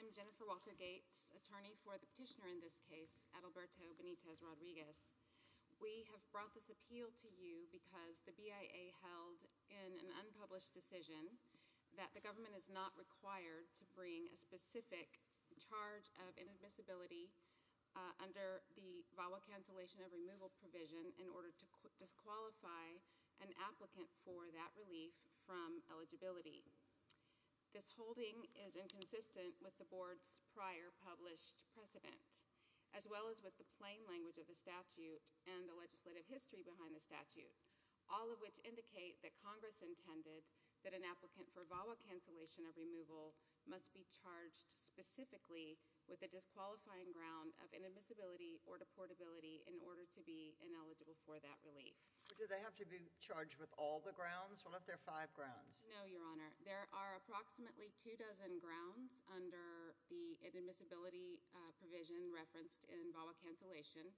I'm Jennifer Walker-Gates, attorney for the petitioner in this case, Adalberto Benitez-Rodriguez. We have brought this appeal to you because the BIA held in an unpublished decision that the government is not required to bring a specific charge of inadmissibility under the VAWA cancellation of removal provision in order to disqualify an applicant for that relief from eligibility. This holding is inconsistent with the board's prior published precedent, as well as with the plain language of the statute and the legislative history behind the statute, all of which indicate that Congress intended that an applicant for VAWA cancellation of removal must be charged specifically with a disqualifying ground of inadmissibility or deportability in order to be ineligible for that relief. But do they have to be charged with all the grounds, what if there are five grounds? No, Your Honor. There are approximately two dozen grounds under the inadmissibility provision referenced in VAWA cancellation.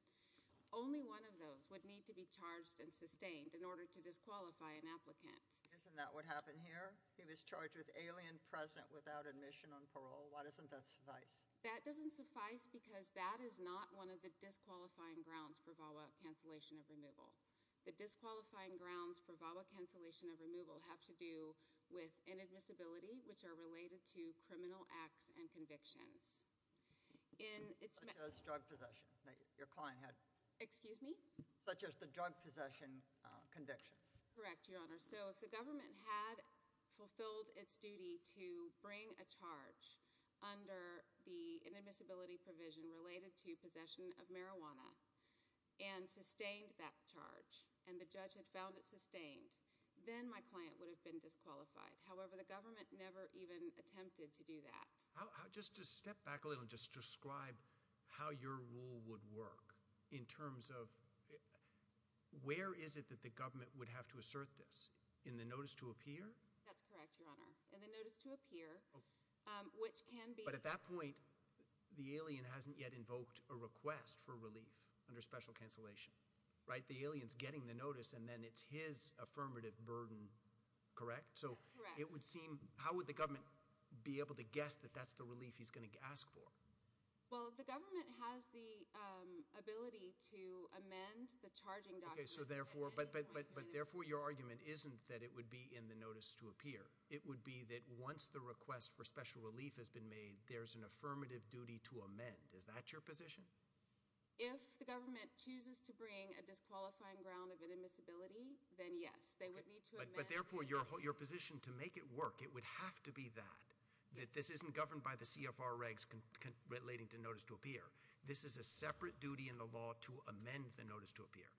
Only one of those would need to be charged and sustained in order to disqualify an applicant. Isn't that what happened here? He was charged with alien present without admission on parole. Why doesn't that suffice? That doesn't suffice because that is not one of the disqualifying grounds for VAWA cancellation of removal. The disqualifying grounds for VAWA cancellation of removal have to do with inadmissibility, which are related to criminal acts and convictions. Such as drug possession that your client had. Excuse me? Such as the drug possession conviction. Correct, Your Honor. So if the government had fulfilled its duty to bring a charge under the inadmissibility provision related to possession of marijuana and sustained that charge, and the judge had found it sustained, then my client would have been disqualified. However, the government never even attempted to do that. How, just step back a little and just describe how your rule would work in terms of, where is it that the government would have to assert this? In the notice to appear? That's correct, Your Honor. In the notice to appear, which can be... But at that point, the alien hasn't yet invoked a request for relief under special cancellation. Right? The alien's getting the notice and then it's his affirmative burden, correct? That's correct. It would seem... How would the government be able to guess that that's the relief he's going to ask for? Well, the government has the ability to amend the charging document... Okay, so therefore... But therefore, your argument isn't that it would be in the notice to appear. It would be that once the request for special relief has been made, there's an affirmative duty to amend. Is that your position? If the government chooses to bring a disqualifying ground of inadmissibility, then yes. They would need to amend... But therefore, your position to make it work, it would have to be that. That this isn't governed by the CFR regs relating to notice to appear. This is a separate duty in the law to amend the notice to appear.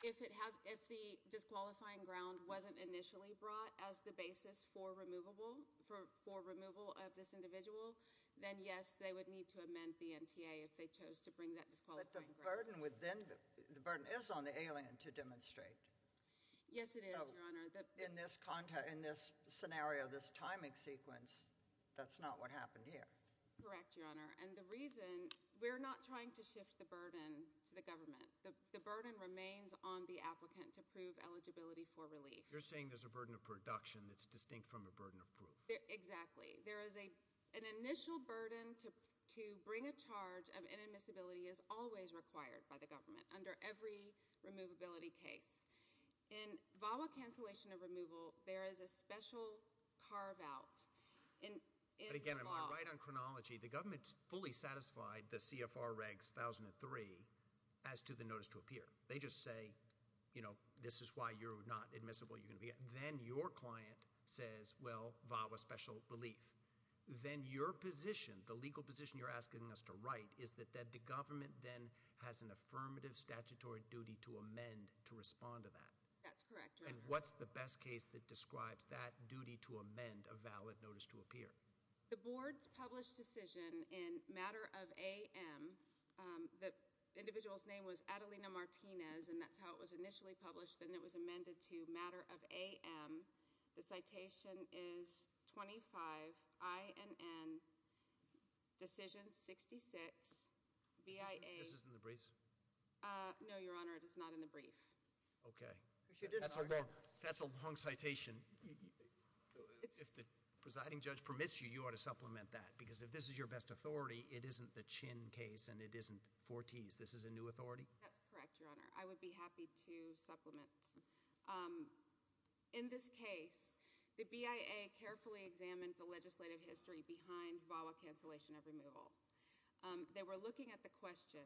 If the disqualifying ground wasn't initially brought as the basis for removal of this individual, then yes, they would need to amend the NTA if they chose to bring that disqualifying ground. But the burden is on the alien to demonstrate. Yes, it is, Your Honor. In this scenario, this timing sequence, that's not what happened here. Correct, Your Honor. And the reason... We're not trying to shift the burden to the government. The burden remains on the applicant to prove eligibility for relief. You're saying there's a burden of production that's distinct from a burden of proof. Exactly. There is an initial burden to bring a charge of inadmissibility is always required by the government under every removability case. In VAWA cancellation of removal, there is a special carve-out in the law. But again, I'm going to write on chronology. The government fully satisfied the CFR regs 1003 as to the notice to appear. They just say, you know, this is why you're not admissible. Then your client says, well, VAWA special relief. Then your position, the legal position you're asking us to write, is that the government then has an affirmative statutory duty to amend to respond to that? That's correct, Your Honor. And what's the best case that describes that duty to amend a valid notice to appear? The board's published decision in matter of AM, the individual's name was Adelina Martinez, and that's how it was initially published. Then it was amended to matter of AM. The citation is 25INN decision 66BIA. This is in the briefs? No, Your Honor, it is not in the brief. Okay. That's a long citation. If the presiding judge permits you, you ought to supplement that because if this is your best authority, it isn't the Chin case and it isn't Forti's. This is a new authority? That's correct, Your Honor. I would be happy to supplement. In this case, the BIA carefully examined the legislative history behind VAWA cancellation of removal. They were looking at the question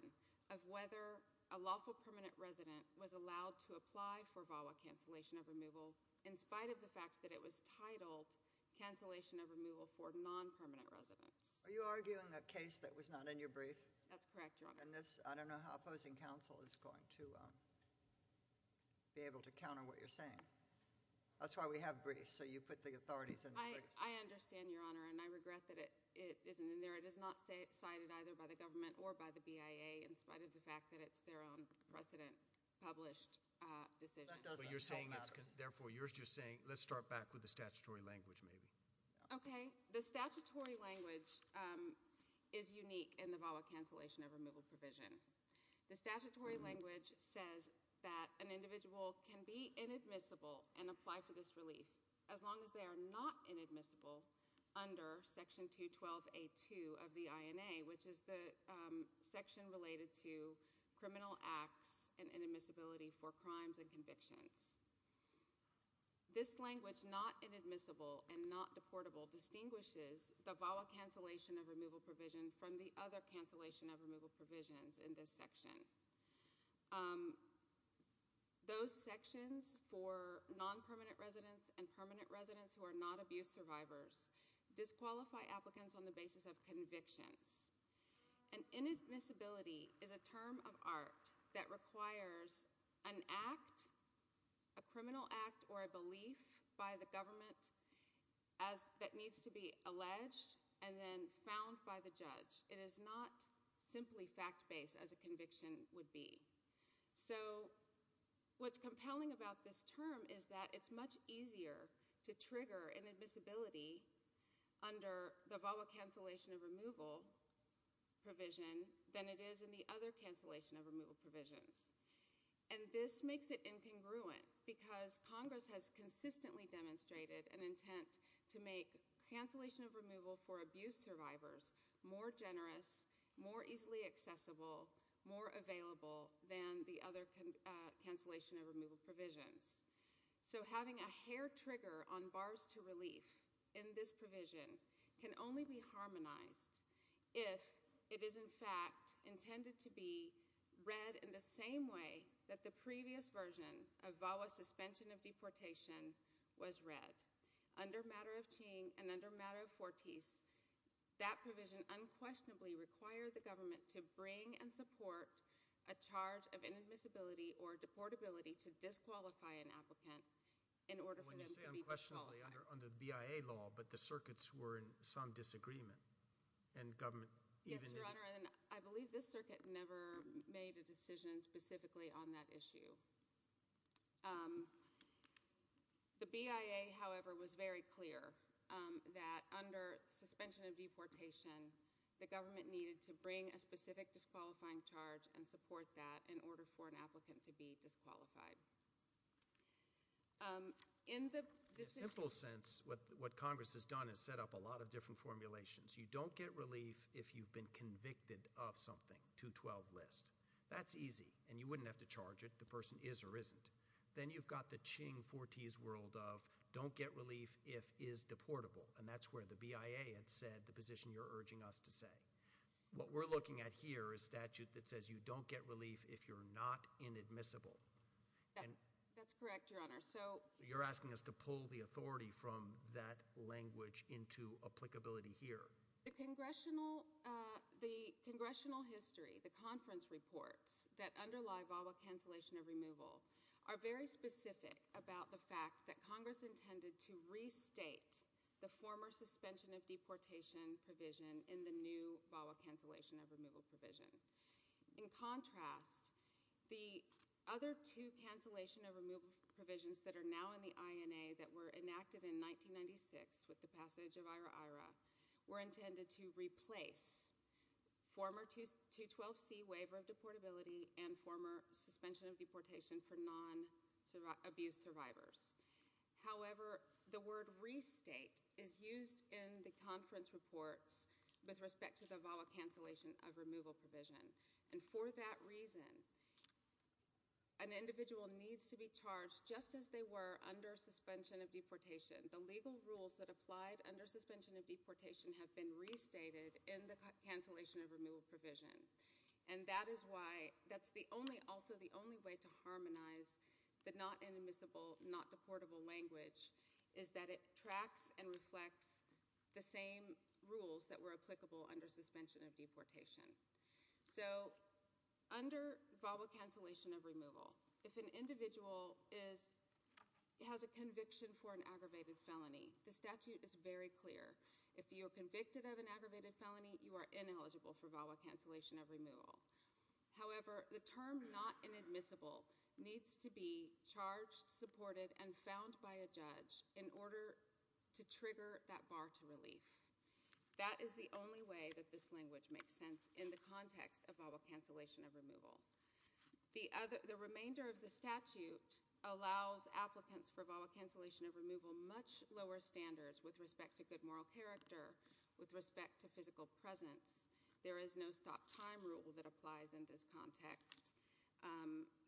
of whether a lawful permanent resident was allowed to apply for VAWA cancellation of removal in spite of the fact that it was titled cancellation of removal for non-permanent residents. Are you arguing a case that was not in your brief? That's correct, Your Honor. I don't know how opposing counsel is going to be able to counter what you're saying. That's why we have briefs, so you put the authorities in the briefs. I understand, Your Honor, and I regret that it isn't in there. It is not cited either by the government or by the BIA in spite of the fact that it's their own precedent-published decision. That doesn't matter. Therefore, you're just saying let's start back with the statutory language maybe. Okay. The statutory language is unique in the VAWA cancellation of removal provision. The statutory language says that an individual can be inadmissible and apply for this relief as long as they are not inadmissible under Section 212A2 of the INA, which is the section related to criminal acts and inadmissibility for crimes and convictions. This language, not inadmissible and not deportable, distinguishes the VAWA cancellation of removal provision from the other cancellation of removal provisions in this section. Those sections for non-permanent residents and permanent residents who are not abuse survivors disqualify applicants on the basis of convictions. And inadmissibility is a term of art that requires an act, a criminal act or a belief by the government that needs to be alleged and then found by the judge. It is not simply fact-based as a conviction would be. So what's compelling about this term is that it's much easier to trigger inadmissibility under the VAWA cancellation of removal provision than it is in the other cancellation of removal provisions. And this makes it incongruent because Congress has consistently demonstrated an intent to make cancellation of removal for abuse survivors more generous, more easily accessible, more available than the other cancellation of removal provisions. So having a hair trigger on bars to relief in this provision can only be harmonized if it is, in fact, intended to be read in the same way that the previous version of VAWA suspension of deportation was read. Under matter of Ching and under matter of Fortis, that provision unquestionably required the government to bring and support a charge of inadmissibility or deportability to disqualify an applicant in order for them to be disqualified. When you say unquestionably under the BIA law but the circuits were in some disagreement and government even Yes, Your Honor, and I believe this circuit never made a decision specifically on that issue. The BIA, however, was very clear that under suspension of deportation, the government needed to bring a specific disqualifying charge and support that in order for an applicant to be disqualified. In the decision In a simple sense, what Congress has done is set up a lot of different formulations. You don't get relief if you've been convicted of something, 212 list. That's easy, and you wouldn't have to charge it, the person is or isn't. Then you've got the Ching-Fortis world of don't get relief if is deportable, and that's where the BIA had said the position you're urging us to say. What we're looking at here is statute that says you don't get relief if you're not inadmissible. That's correct, Your Honor. You're asking us to pull the authority from that language into applicability here. The congressional history, the conference reports that underlie VAWA cancellation of removal are very specific about the fact that Congress intended to restate the former suspension of deportation provision in the new VAWA cancellation of removal provision. In contrast, the other two cancellation of removal provisions that are now in the INA that were enacted in 1996 with the passage of IRA-IRA were intended to replace former 212C waiver of deportability and former suspension of deportation for non-abuse survivors. However, the word restate is used in the conference reports with respect to the VAWA cancellation of removal provision. For that reason, an individual needs to be charged just as they were under suspension of deportation. The legal rules that applied under suspension of deportation have been restated in the cancellation of removal provision. That is why that's also the only way to harmonize the not inadmissible, not deportable language is that it tracks and reflects the same rules that were applicable under suspension of deportation. So under VAWA cancellation of removal, if an individual has a conviction for an aggravated felony, the statute is very clear. If you are convicted of an aggravated felony, you are ineligible for VAWA cancellation of removal. However, the term not inadmissible needs to be charged, supported, and found by a judge in order to trigger that bar to relief. That is the only way that this language makes sense in the context of VAWA cancellation of removal. The remainder of the statute allows applicants for VAWA cancellation of removal much lower standards with respect to good moral character, with respect to physical presence. There is no stop time rule that applies in this context.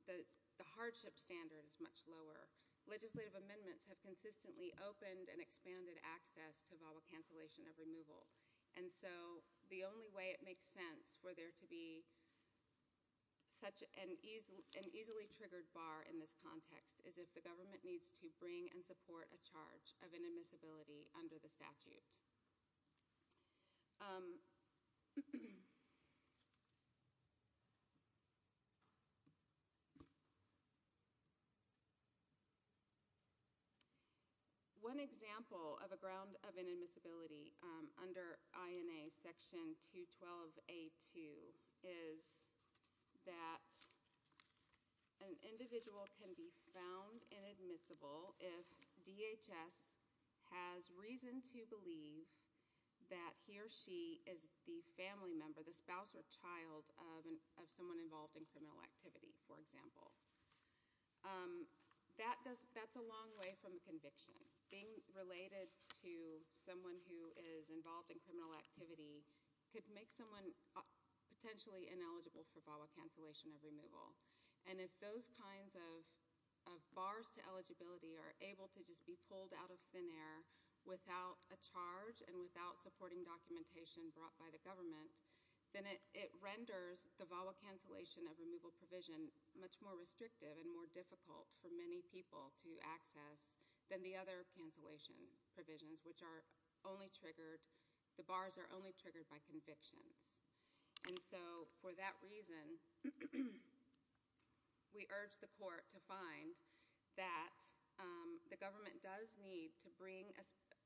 The hardship standard is much lower. Legislative amendments have consistently opened and expanded access to VAWA cancellation of removal. And so the only way it makes sense for there to be such an easily triggered bar in this context is if the government needs to bring and support a charge of inadmissibility under the statute. One example of a ground of inadmissibility under INA section 212A2 is that an individual can be found inadmissible if DHS has reason to believe that he or she is the family member, the spouse or child of someone involved in criminal activity, for example. That's a long way from a conviction. Being related to someone who is involved in criminal activity could make someone potentially ineligible for VAWA cancellation of removal. And if those kinds of bars to eligibility are able to just be pulled out of thin air without a charge and without supporting documentation brought by the government, then it renders the VAWA cancellation of removal provision much more restrictive and more difficult for many people to access than the other cancellation provisions, which are only triggered, the bars are only triggered by convictions. And so for that reason, we urge the court to find that the government does need to bring,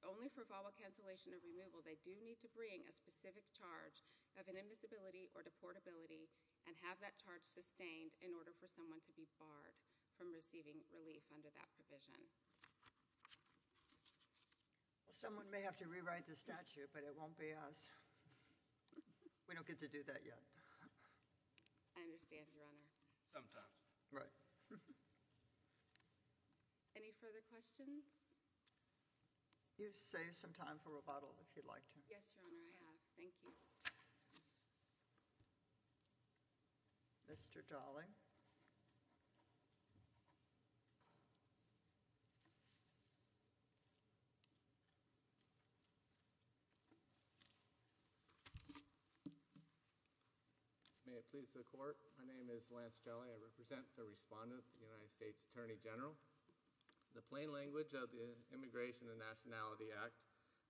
only for VAWA cancellation of removal, they do need to bring a specific charge of inadmissibility or deportability and have that charge sustained in order for someone to be barred from receiving relief under that provision. Someone may have to rewrite the statute, but it won't be us. We don't get to do that yet. I understand, Your Honor. Sometimes. Right. Any further questions? You've saved some time for rebuttal, if you'd like to. Yes, Your Honor, I have. Thank you. Mr. Jolly. May it please the court. My name is Lance Jolly. I represent the respondent of the United States Attorney General. The plain language of the Immigration and Nationality Act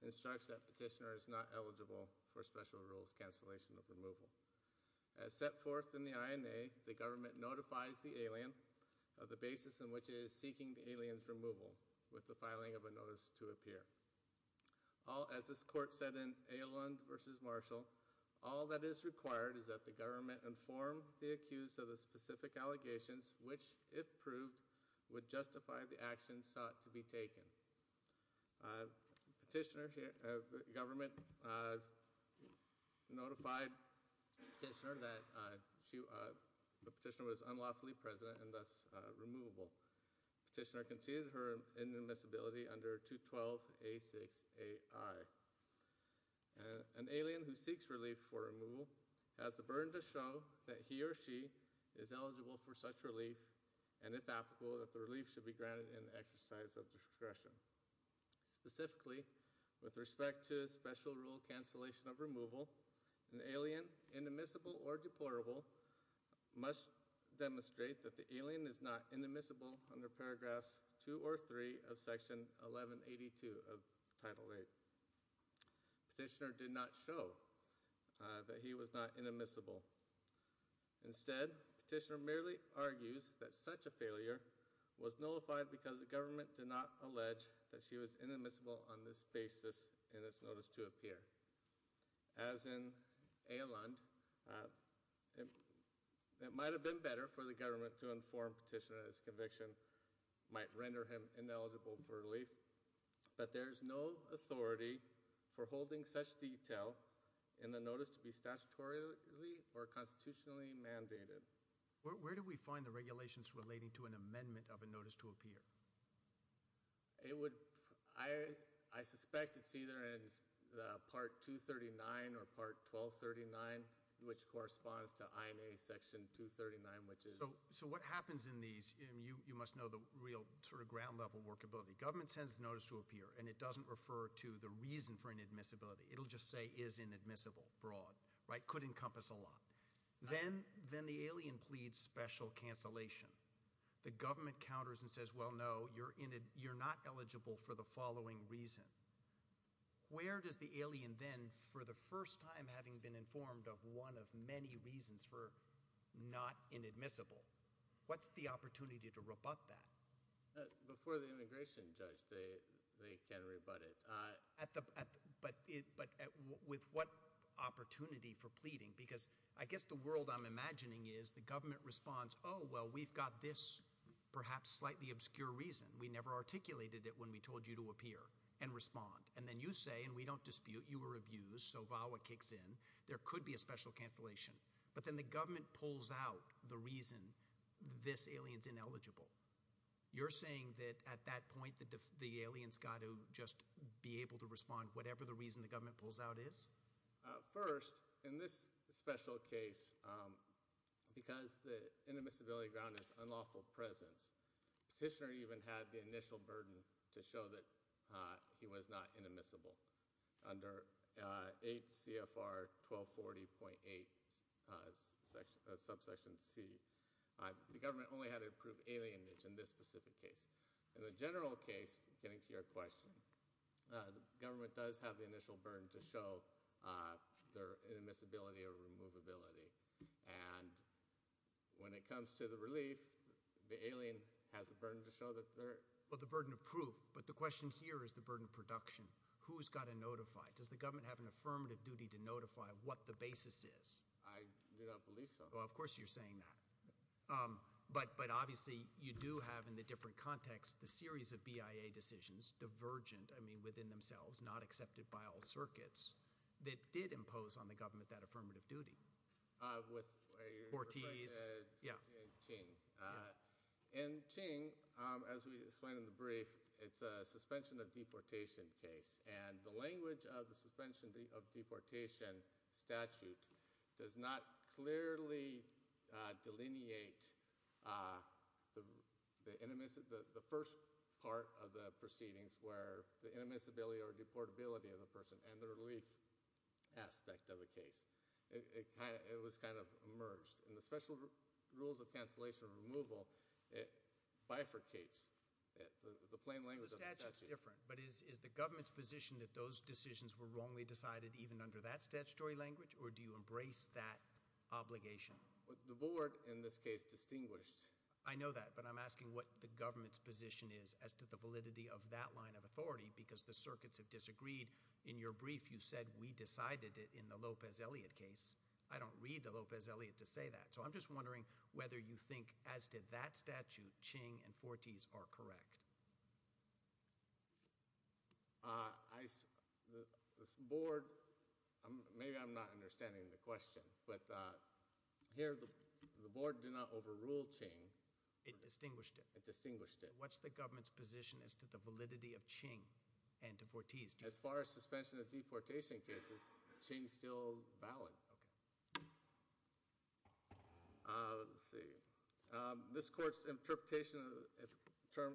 instructs that petitioner is not eligible for special rules cancellation of removal. As set forth in the INA, the government notifies the alien of the basis in which it is seeking the alien's removal with the filing of a notice to appear. As this court said in Ailand v. Marshall, all that is required is that the government inform the accused of the specific allegations, which, if proved, would justify the actions sought to be taken. Petitioner, the government notified petitioner that the petitioner was unlawfully present and thus removable. Petitioner conceded her inadmissibility under 212A6AI. An alien who seeks relief for removal has the burden to show that he or she is eligible for such relief, and, if applicable, that the relief should be granted in the exercise of discretion. Specifically, with respect to special rule cancellation of removal, an alien, inadmissible or deplorable, must demonstrate that the alien is not inadmissible under paragraphs 2 or 3 of section 1182 of Title VIII. Petitioner did not show that he was not inadmissible. Instead, petitioner merely argues that such a failure was nullified because the government did not allege that she was inadmissible on this basis in this notice to appear. As in Eyalund, it might have been better for the government to inform petitioner that his conviction might render him ineligible for relief, but there is no authority for holding such detail in the notice to be statutorily or constitutionally mandated. Where do we find the regulations relating to an amendment of a notice to appear? I suspect it's either in Part 239 or Part 1239, which corresponds to INA Section 239, which is... So what happens in these, you must know the real sort of ground-level workability. Government sends a notice to appear, and it doesn't refer to the reason for inadmissibility. It will just say, is inadmissible, broad, right? Could encompass a lot. Then the alien pleads special cancellation. The government counters and says, well, no, you're not eligible for the following reason. Where does the alien then, for the first time having been informed of one of many reasons for not inadmissible, what's the opportunity to rebut that? Before the immigration judge, they can rebut it. But with what opportunity for pleading? Because I guess the world I'm imagining is the government responds, oh, well, we've got this perhaps slightly obscure reason. We never articulated it when we told you to appear and respond. And then you say, and we don't dispute, you were abused, so VAWA kicks in. There could be a special cancellation. But then the government pulls out the reason this alien's ineligible. You're saying that at that point the alien's got to just be able to respond whatever the reason the government pulls out is? First, in this special case, because the inadmissibility ground is unlawful presence, petitioner even had the initial burden to show that he was not inadmissible under 8 CFR 1240.8 subsection C. The government only had to approve alienage in this specific case. In the general case, getting to your question, the government does have the initial burden to show their inadmissibility or removability. And when it comes to the relief, the alien has the burden to show that they're ‑‑ Well, the burden of proof. But the question here is the burden of production. Who's got to notify? Does the government have an affirmative duty to notify what the basis is? I do not believe so. Well, of course you're saying that. But obviously you do have in the different context the series of BIA decisions, divergent, I mean within themselves, not accepted by all circuits, that did impose on the government that affirmative duty. With Ortiz. Yeah. And Ching. And Ching, as we explained in the brief, it's a suspension of deportation case. And the language of the suspension of deportation statute does not clearly delineate the first part of the proceedings where the inadmissibility or deportability of the person and the relief aspect of a case. It was kind of merged. And the special rules of cancellation removal bifurcates the plain language of the statute. The statute's different. But is the government's position that those decisions were wrongly decided even under that statutory language? Or do you embrace that obligation? The board, in this case, distinguished. I know that. But I'm asking what the government's position is as to the validity of that line of authority. Because the circuits have disagreed. In your brief, you said we decided it in the Lopez‑Elliott case. I don't read the Lopez‑Elliott to say that. So I'm just wondering whether you think, as did that statute, Ching and Ortiz are correct. The board, maybe I'm not understanding the question. But here the board did not overrule Ching. It distinguished it. It distinguished it. What's the government's position as to the validity of Ching and to Ortiz? As far as suspension of deportation cases, Ching is still valid. Okay. Let's see. This court's interpretation of the term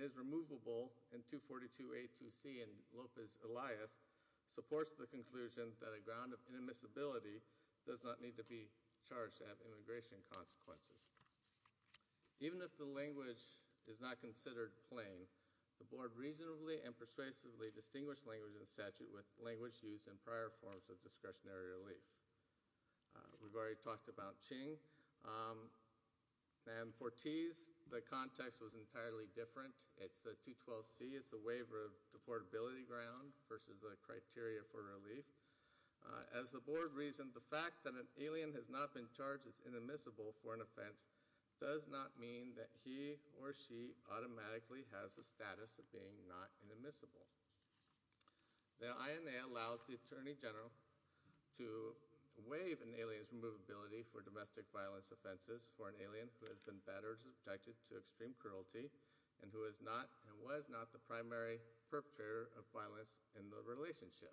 is removable in 242A‑2C in Lopez‑Elliott supports the conclusion that a ground of inadmissibility does not need to be charged to have immigration consequences. Even if the language is not considered plain, the board reasonably and persuasively distinguished language in statute with language used in prior forms of discretionary relief. We've already talked about Ching. And for Ortiz, the context was entirely different. It's the 212C. It's a waiver of deportability ground versus a criteria for relief. As the board reasoned, the fact that an alien has not been charged as inadmissible for an offense does not mean that he or she automatically has the status of being not inadmissible. The INA allows the Attorney General to waive an alien's removability for domestic violence offenses for an alien who has been better subjected to extreme cruelty and who is not and was not the primary perpetrator of violence in the relationship.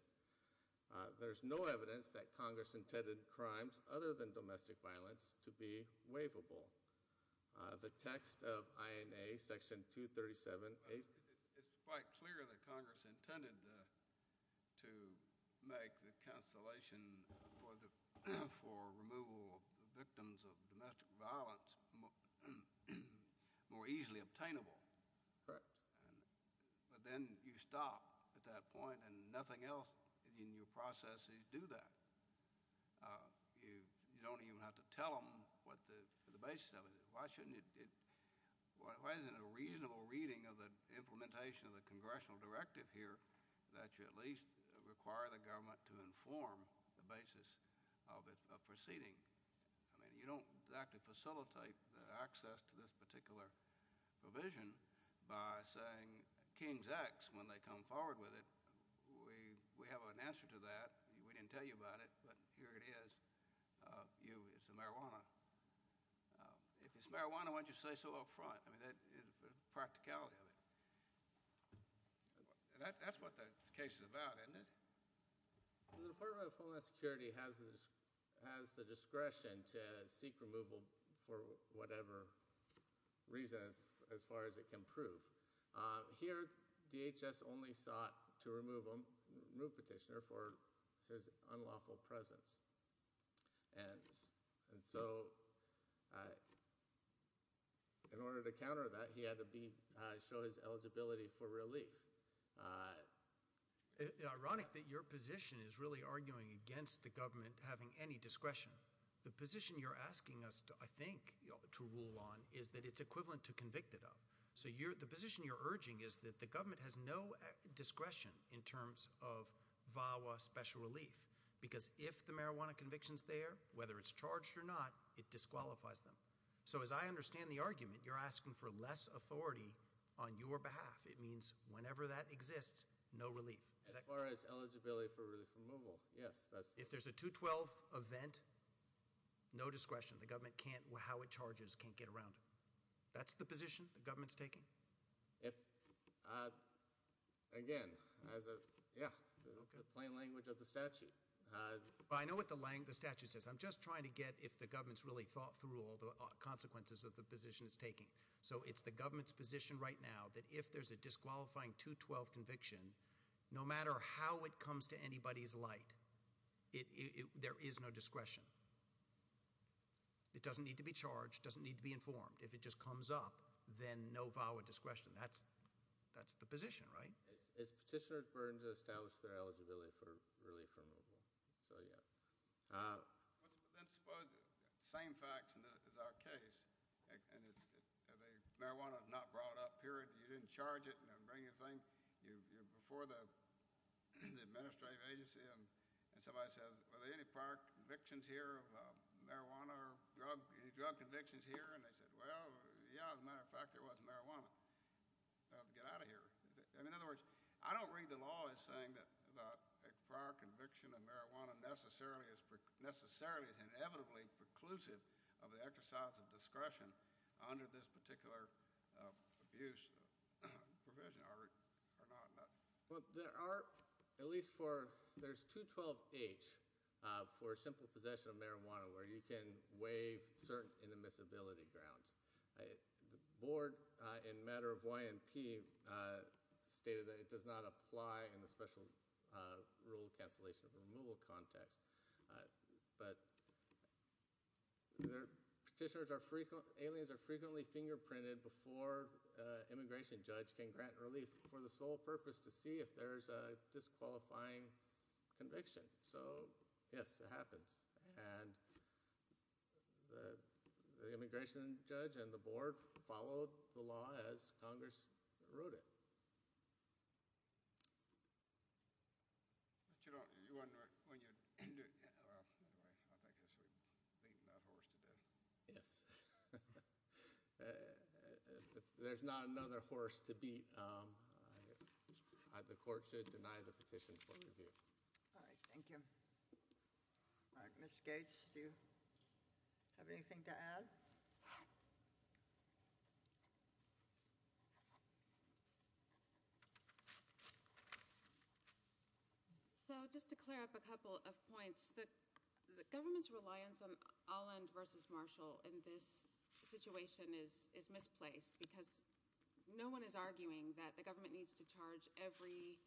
There's no evidence that Congress intended crimes other than domestic violence to be waivable. The text of INA section 237A It's quite clear that Congress intended to make the cancellation for the for removal of victims of domestic violence more easily obtainable. Correct. But then you stop at that point and nothing else in your processes do that. You don't even have to tell them what the basis of it is. Why shouldn't it Why isn't it a reasonable reading of the implementation of the congressional directive here that you at least require the government to inform the basis of its proceeding? I mean, you don't exactly facilitate the access to this particular provision by saying King's X when they come forward with it. We have an answer to that. We didn't tell you about it, but here it is. It's the marijuana. If it's marijuana, why don't you say so up front? I mean, the practicality of it. That's what the case is about, isn't it? The Department of Homeland Security has the discretion to seek removal for whatever reason, as far as it can prove. Here, DHS only sought to remove petitioner for his unlawful presence. In order to counter that, he had to show his eligibility for relief. It's ironic that your position is really arguing against the government having any discretion. The position you're asking us, I think, to rule on is that it's equivalent to convicted of. So the position you're urging is that the government has no discretion in terms of VAWA special relief because if the marijuana conviction's there, whether it's charged or not, it disqualifies them. So as I understand the argument, you're asking for less authority on your behalf. It means whenever that exists, no relief. As far as eligibility for relief removal, yes. If there's a 212 event, no discretion. The government can't, how it charges, can't get around it. That's the position the government's taking? Again, yeah, plain language of the statute. I know what the statute says. I'm just trying to get if the government's really thought through all the consequences of the position it's taking. So it's the government's position right now that if there's a disqualifying 212 conviction, no matter how it comes to anybody's light, there is no discretion. It doesn't need to be charged. It doesn't need to be informed. If it just comes up, then no VAWA discretion. That's the position, right? It's petitioner's burden to establish their eligibility for relief removal. So, yeah. Then suppose the same facts as our case, and the marijuana's not brought up, period, you didn't charge it and didn't bring anything. You're before the administrative agency, and somebody says, are there any prior convictions here of marijuana or any drug convictions here? And they said, well, yeah, as a matter of fact, there was marijuana. I'll have to get out of here. In other words, I don't read the law as saying that a prior conviction of marijuana necessarily is inevitably preclusive of the exercise of discretion under this particular abuse. Well, there are, at least for, there's 212H for simple possession of marijuana, where you can waive certain inadmissibility grounds. The board, in a matter of YMP, stated that it does not apply in the special rule cancellation or removal context. But petitioners are, aliens are frequently fingerprinted before an immigration judge can grant relief for the sole purpose to see if there's a disqualifying conviction. So, yes, it happens. And the immigration judge and the board followed the law as Congress wrote it. But you don't, you wouldn't, when you, anyway, I guess we've beaten that horse to death. Yes. If there's not another horse to beat, the court should deny the petition for review. All right, thank you. All right, Ms. Gates, do you have anything to add? So, just to clear up a couple of points. The government's reliance on Allend versus Marshall in this situation is misplaced, because no one is arguing that the government needs to charge every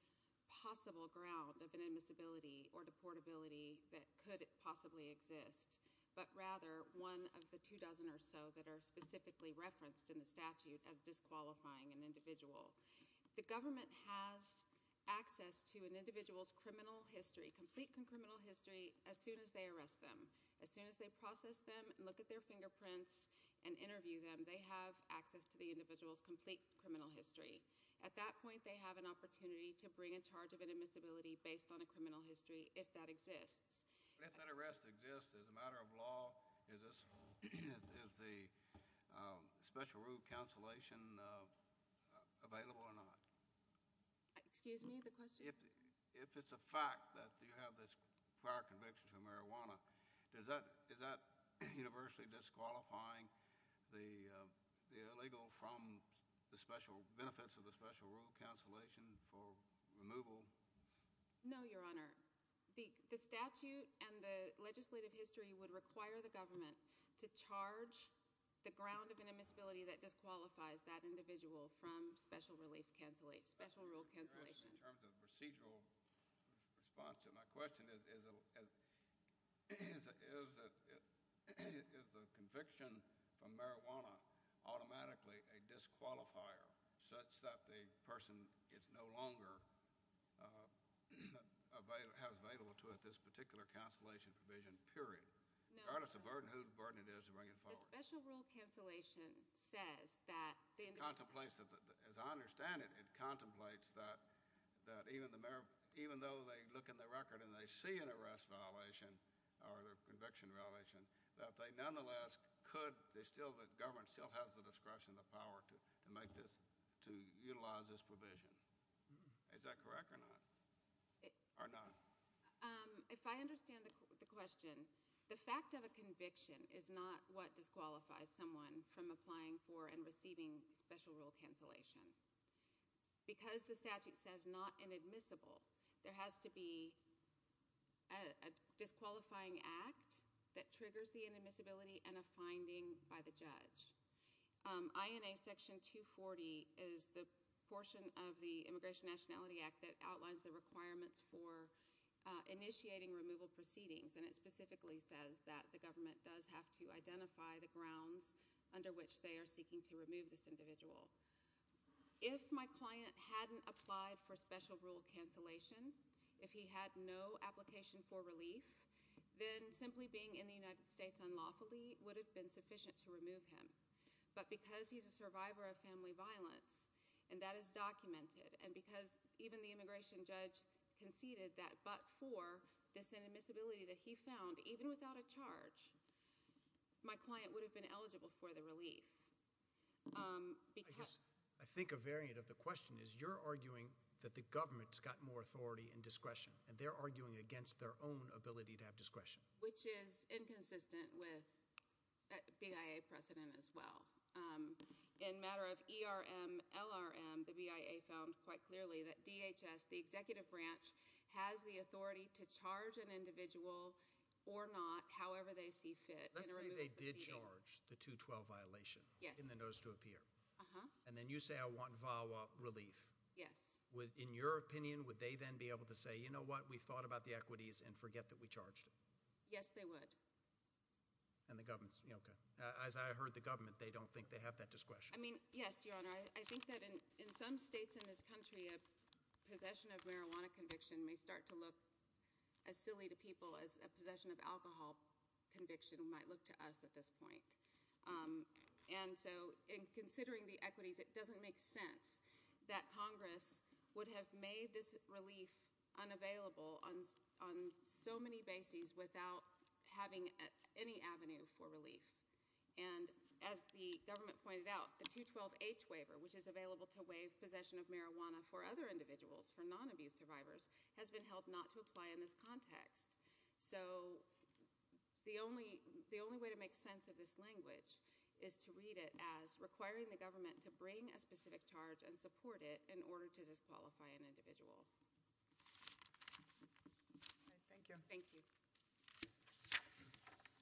possible ground of inadmissibility or deportability that could possibly exist, but rather one of the two dozen or so that are specifically referenced in the statute as disqualifying an individual. The government has access to an individual's criminal history, complete criminal history, as soon as they arrest them. As soon as they process them and look at their fingerprints and interview them, they have access to the individual's complete criminal history. At that point, they have an opportunity to bring in charge of inadmissibility based on a criminal history, if that exists. If that arrest exists, as a matter of law, is the special rule consolation available or not? Excuse me? The question? If it's a fact that you have this prior conviction for marijuana, is that universally disqualifying the illegal from the special benefits of the special rule consolation for removal? No, Your Honor. The statute and the legislative history would require the government to charge the ground of inadmissibility that disqualifies that individual from special rule consolation. In terms of procedural response to my question, is the conviction for marijuana automatically a disqualifier, such that the person is no longer—has available to it this particular consolation provision, period? Regardless of burden, whose burden it is to bring it forward? The special rule consolation says that— As I understand it, it contemplates that even though they look in the record and they see an arrest violation or a conviction violation, that they nonetheless could—the government still has the discretion and the power to utilize this provision. Is that correct or not? Or not? If I understand the question, the fact of a conviction is not what disqualifies someone from applying for and receiving special rule consolation. Because the statute says not inadmissible, there has to be a disqualifying act that triggers the inadmissibility and a finding by the judge. INA Section 240 is the portion of the Immigration Nationality Act that outlines the requirements for initiating removal proceedings, and it specifically says that the government does have to identify the grounds under which they are seeking to remove this individual. If my client hadn't applied for special rule consolation, if he had no application for relief, then simply being in the United States unlawfully would have been sufficient to remove him. But because he's a survivor of family violence, and that is documented, and because even the immigration judge conceded that but for this inadmissibility that he found, even without a charge, my client would have been eligible for the relief. I think a variant of the question is you're arguing that the government's got more authority and discretion, and they're arguing against their own ability to have discretion. Which is inconsistent with BIA precedent as well. In a matter of ERM, LRM, the BIA found quite clearly that DHS, the executive branch, has the authority to charge an individual or not, however they see fit, in a removal proceeding. Let's say they did charge the 212 violation in the notice to appear, and then you say I want VAWA relief. Yes. In your opinion, would they then be able to say, you know what, we thought about the equities and forget that we charged it? Yes, they would. And the government's, okay. As I heard the government, they don't think they have that discretion. I mean, yes, Your Honor. I think that in some states in this country, a possession of marijuana conviction may start to look as silly to people as a possession of alcohol conviction might look to us at this point. And so in considering the equities, it doesn't make sense that Congress would have made this relief unavailable on so many bases without having any avenue for relief. And as the government pointed out, the 212H waiver, which is available to waive possession of marijuana for other individuals, for non-abuse survivors, has been held not to apply in this context. So the only way to make sense of this language is to read it as requiring the government to bring a specific charge and support it in order to disqualify an individual. Thank you. Thank you.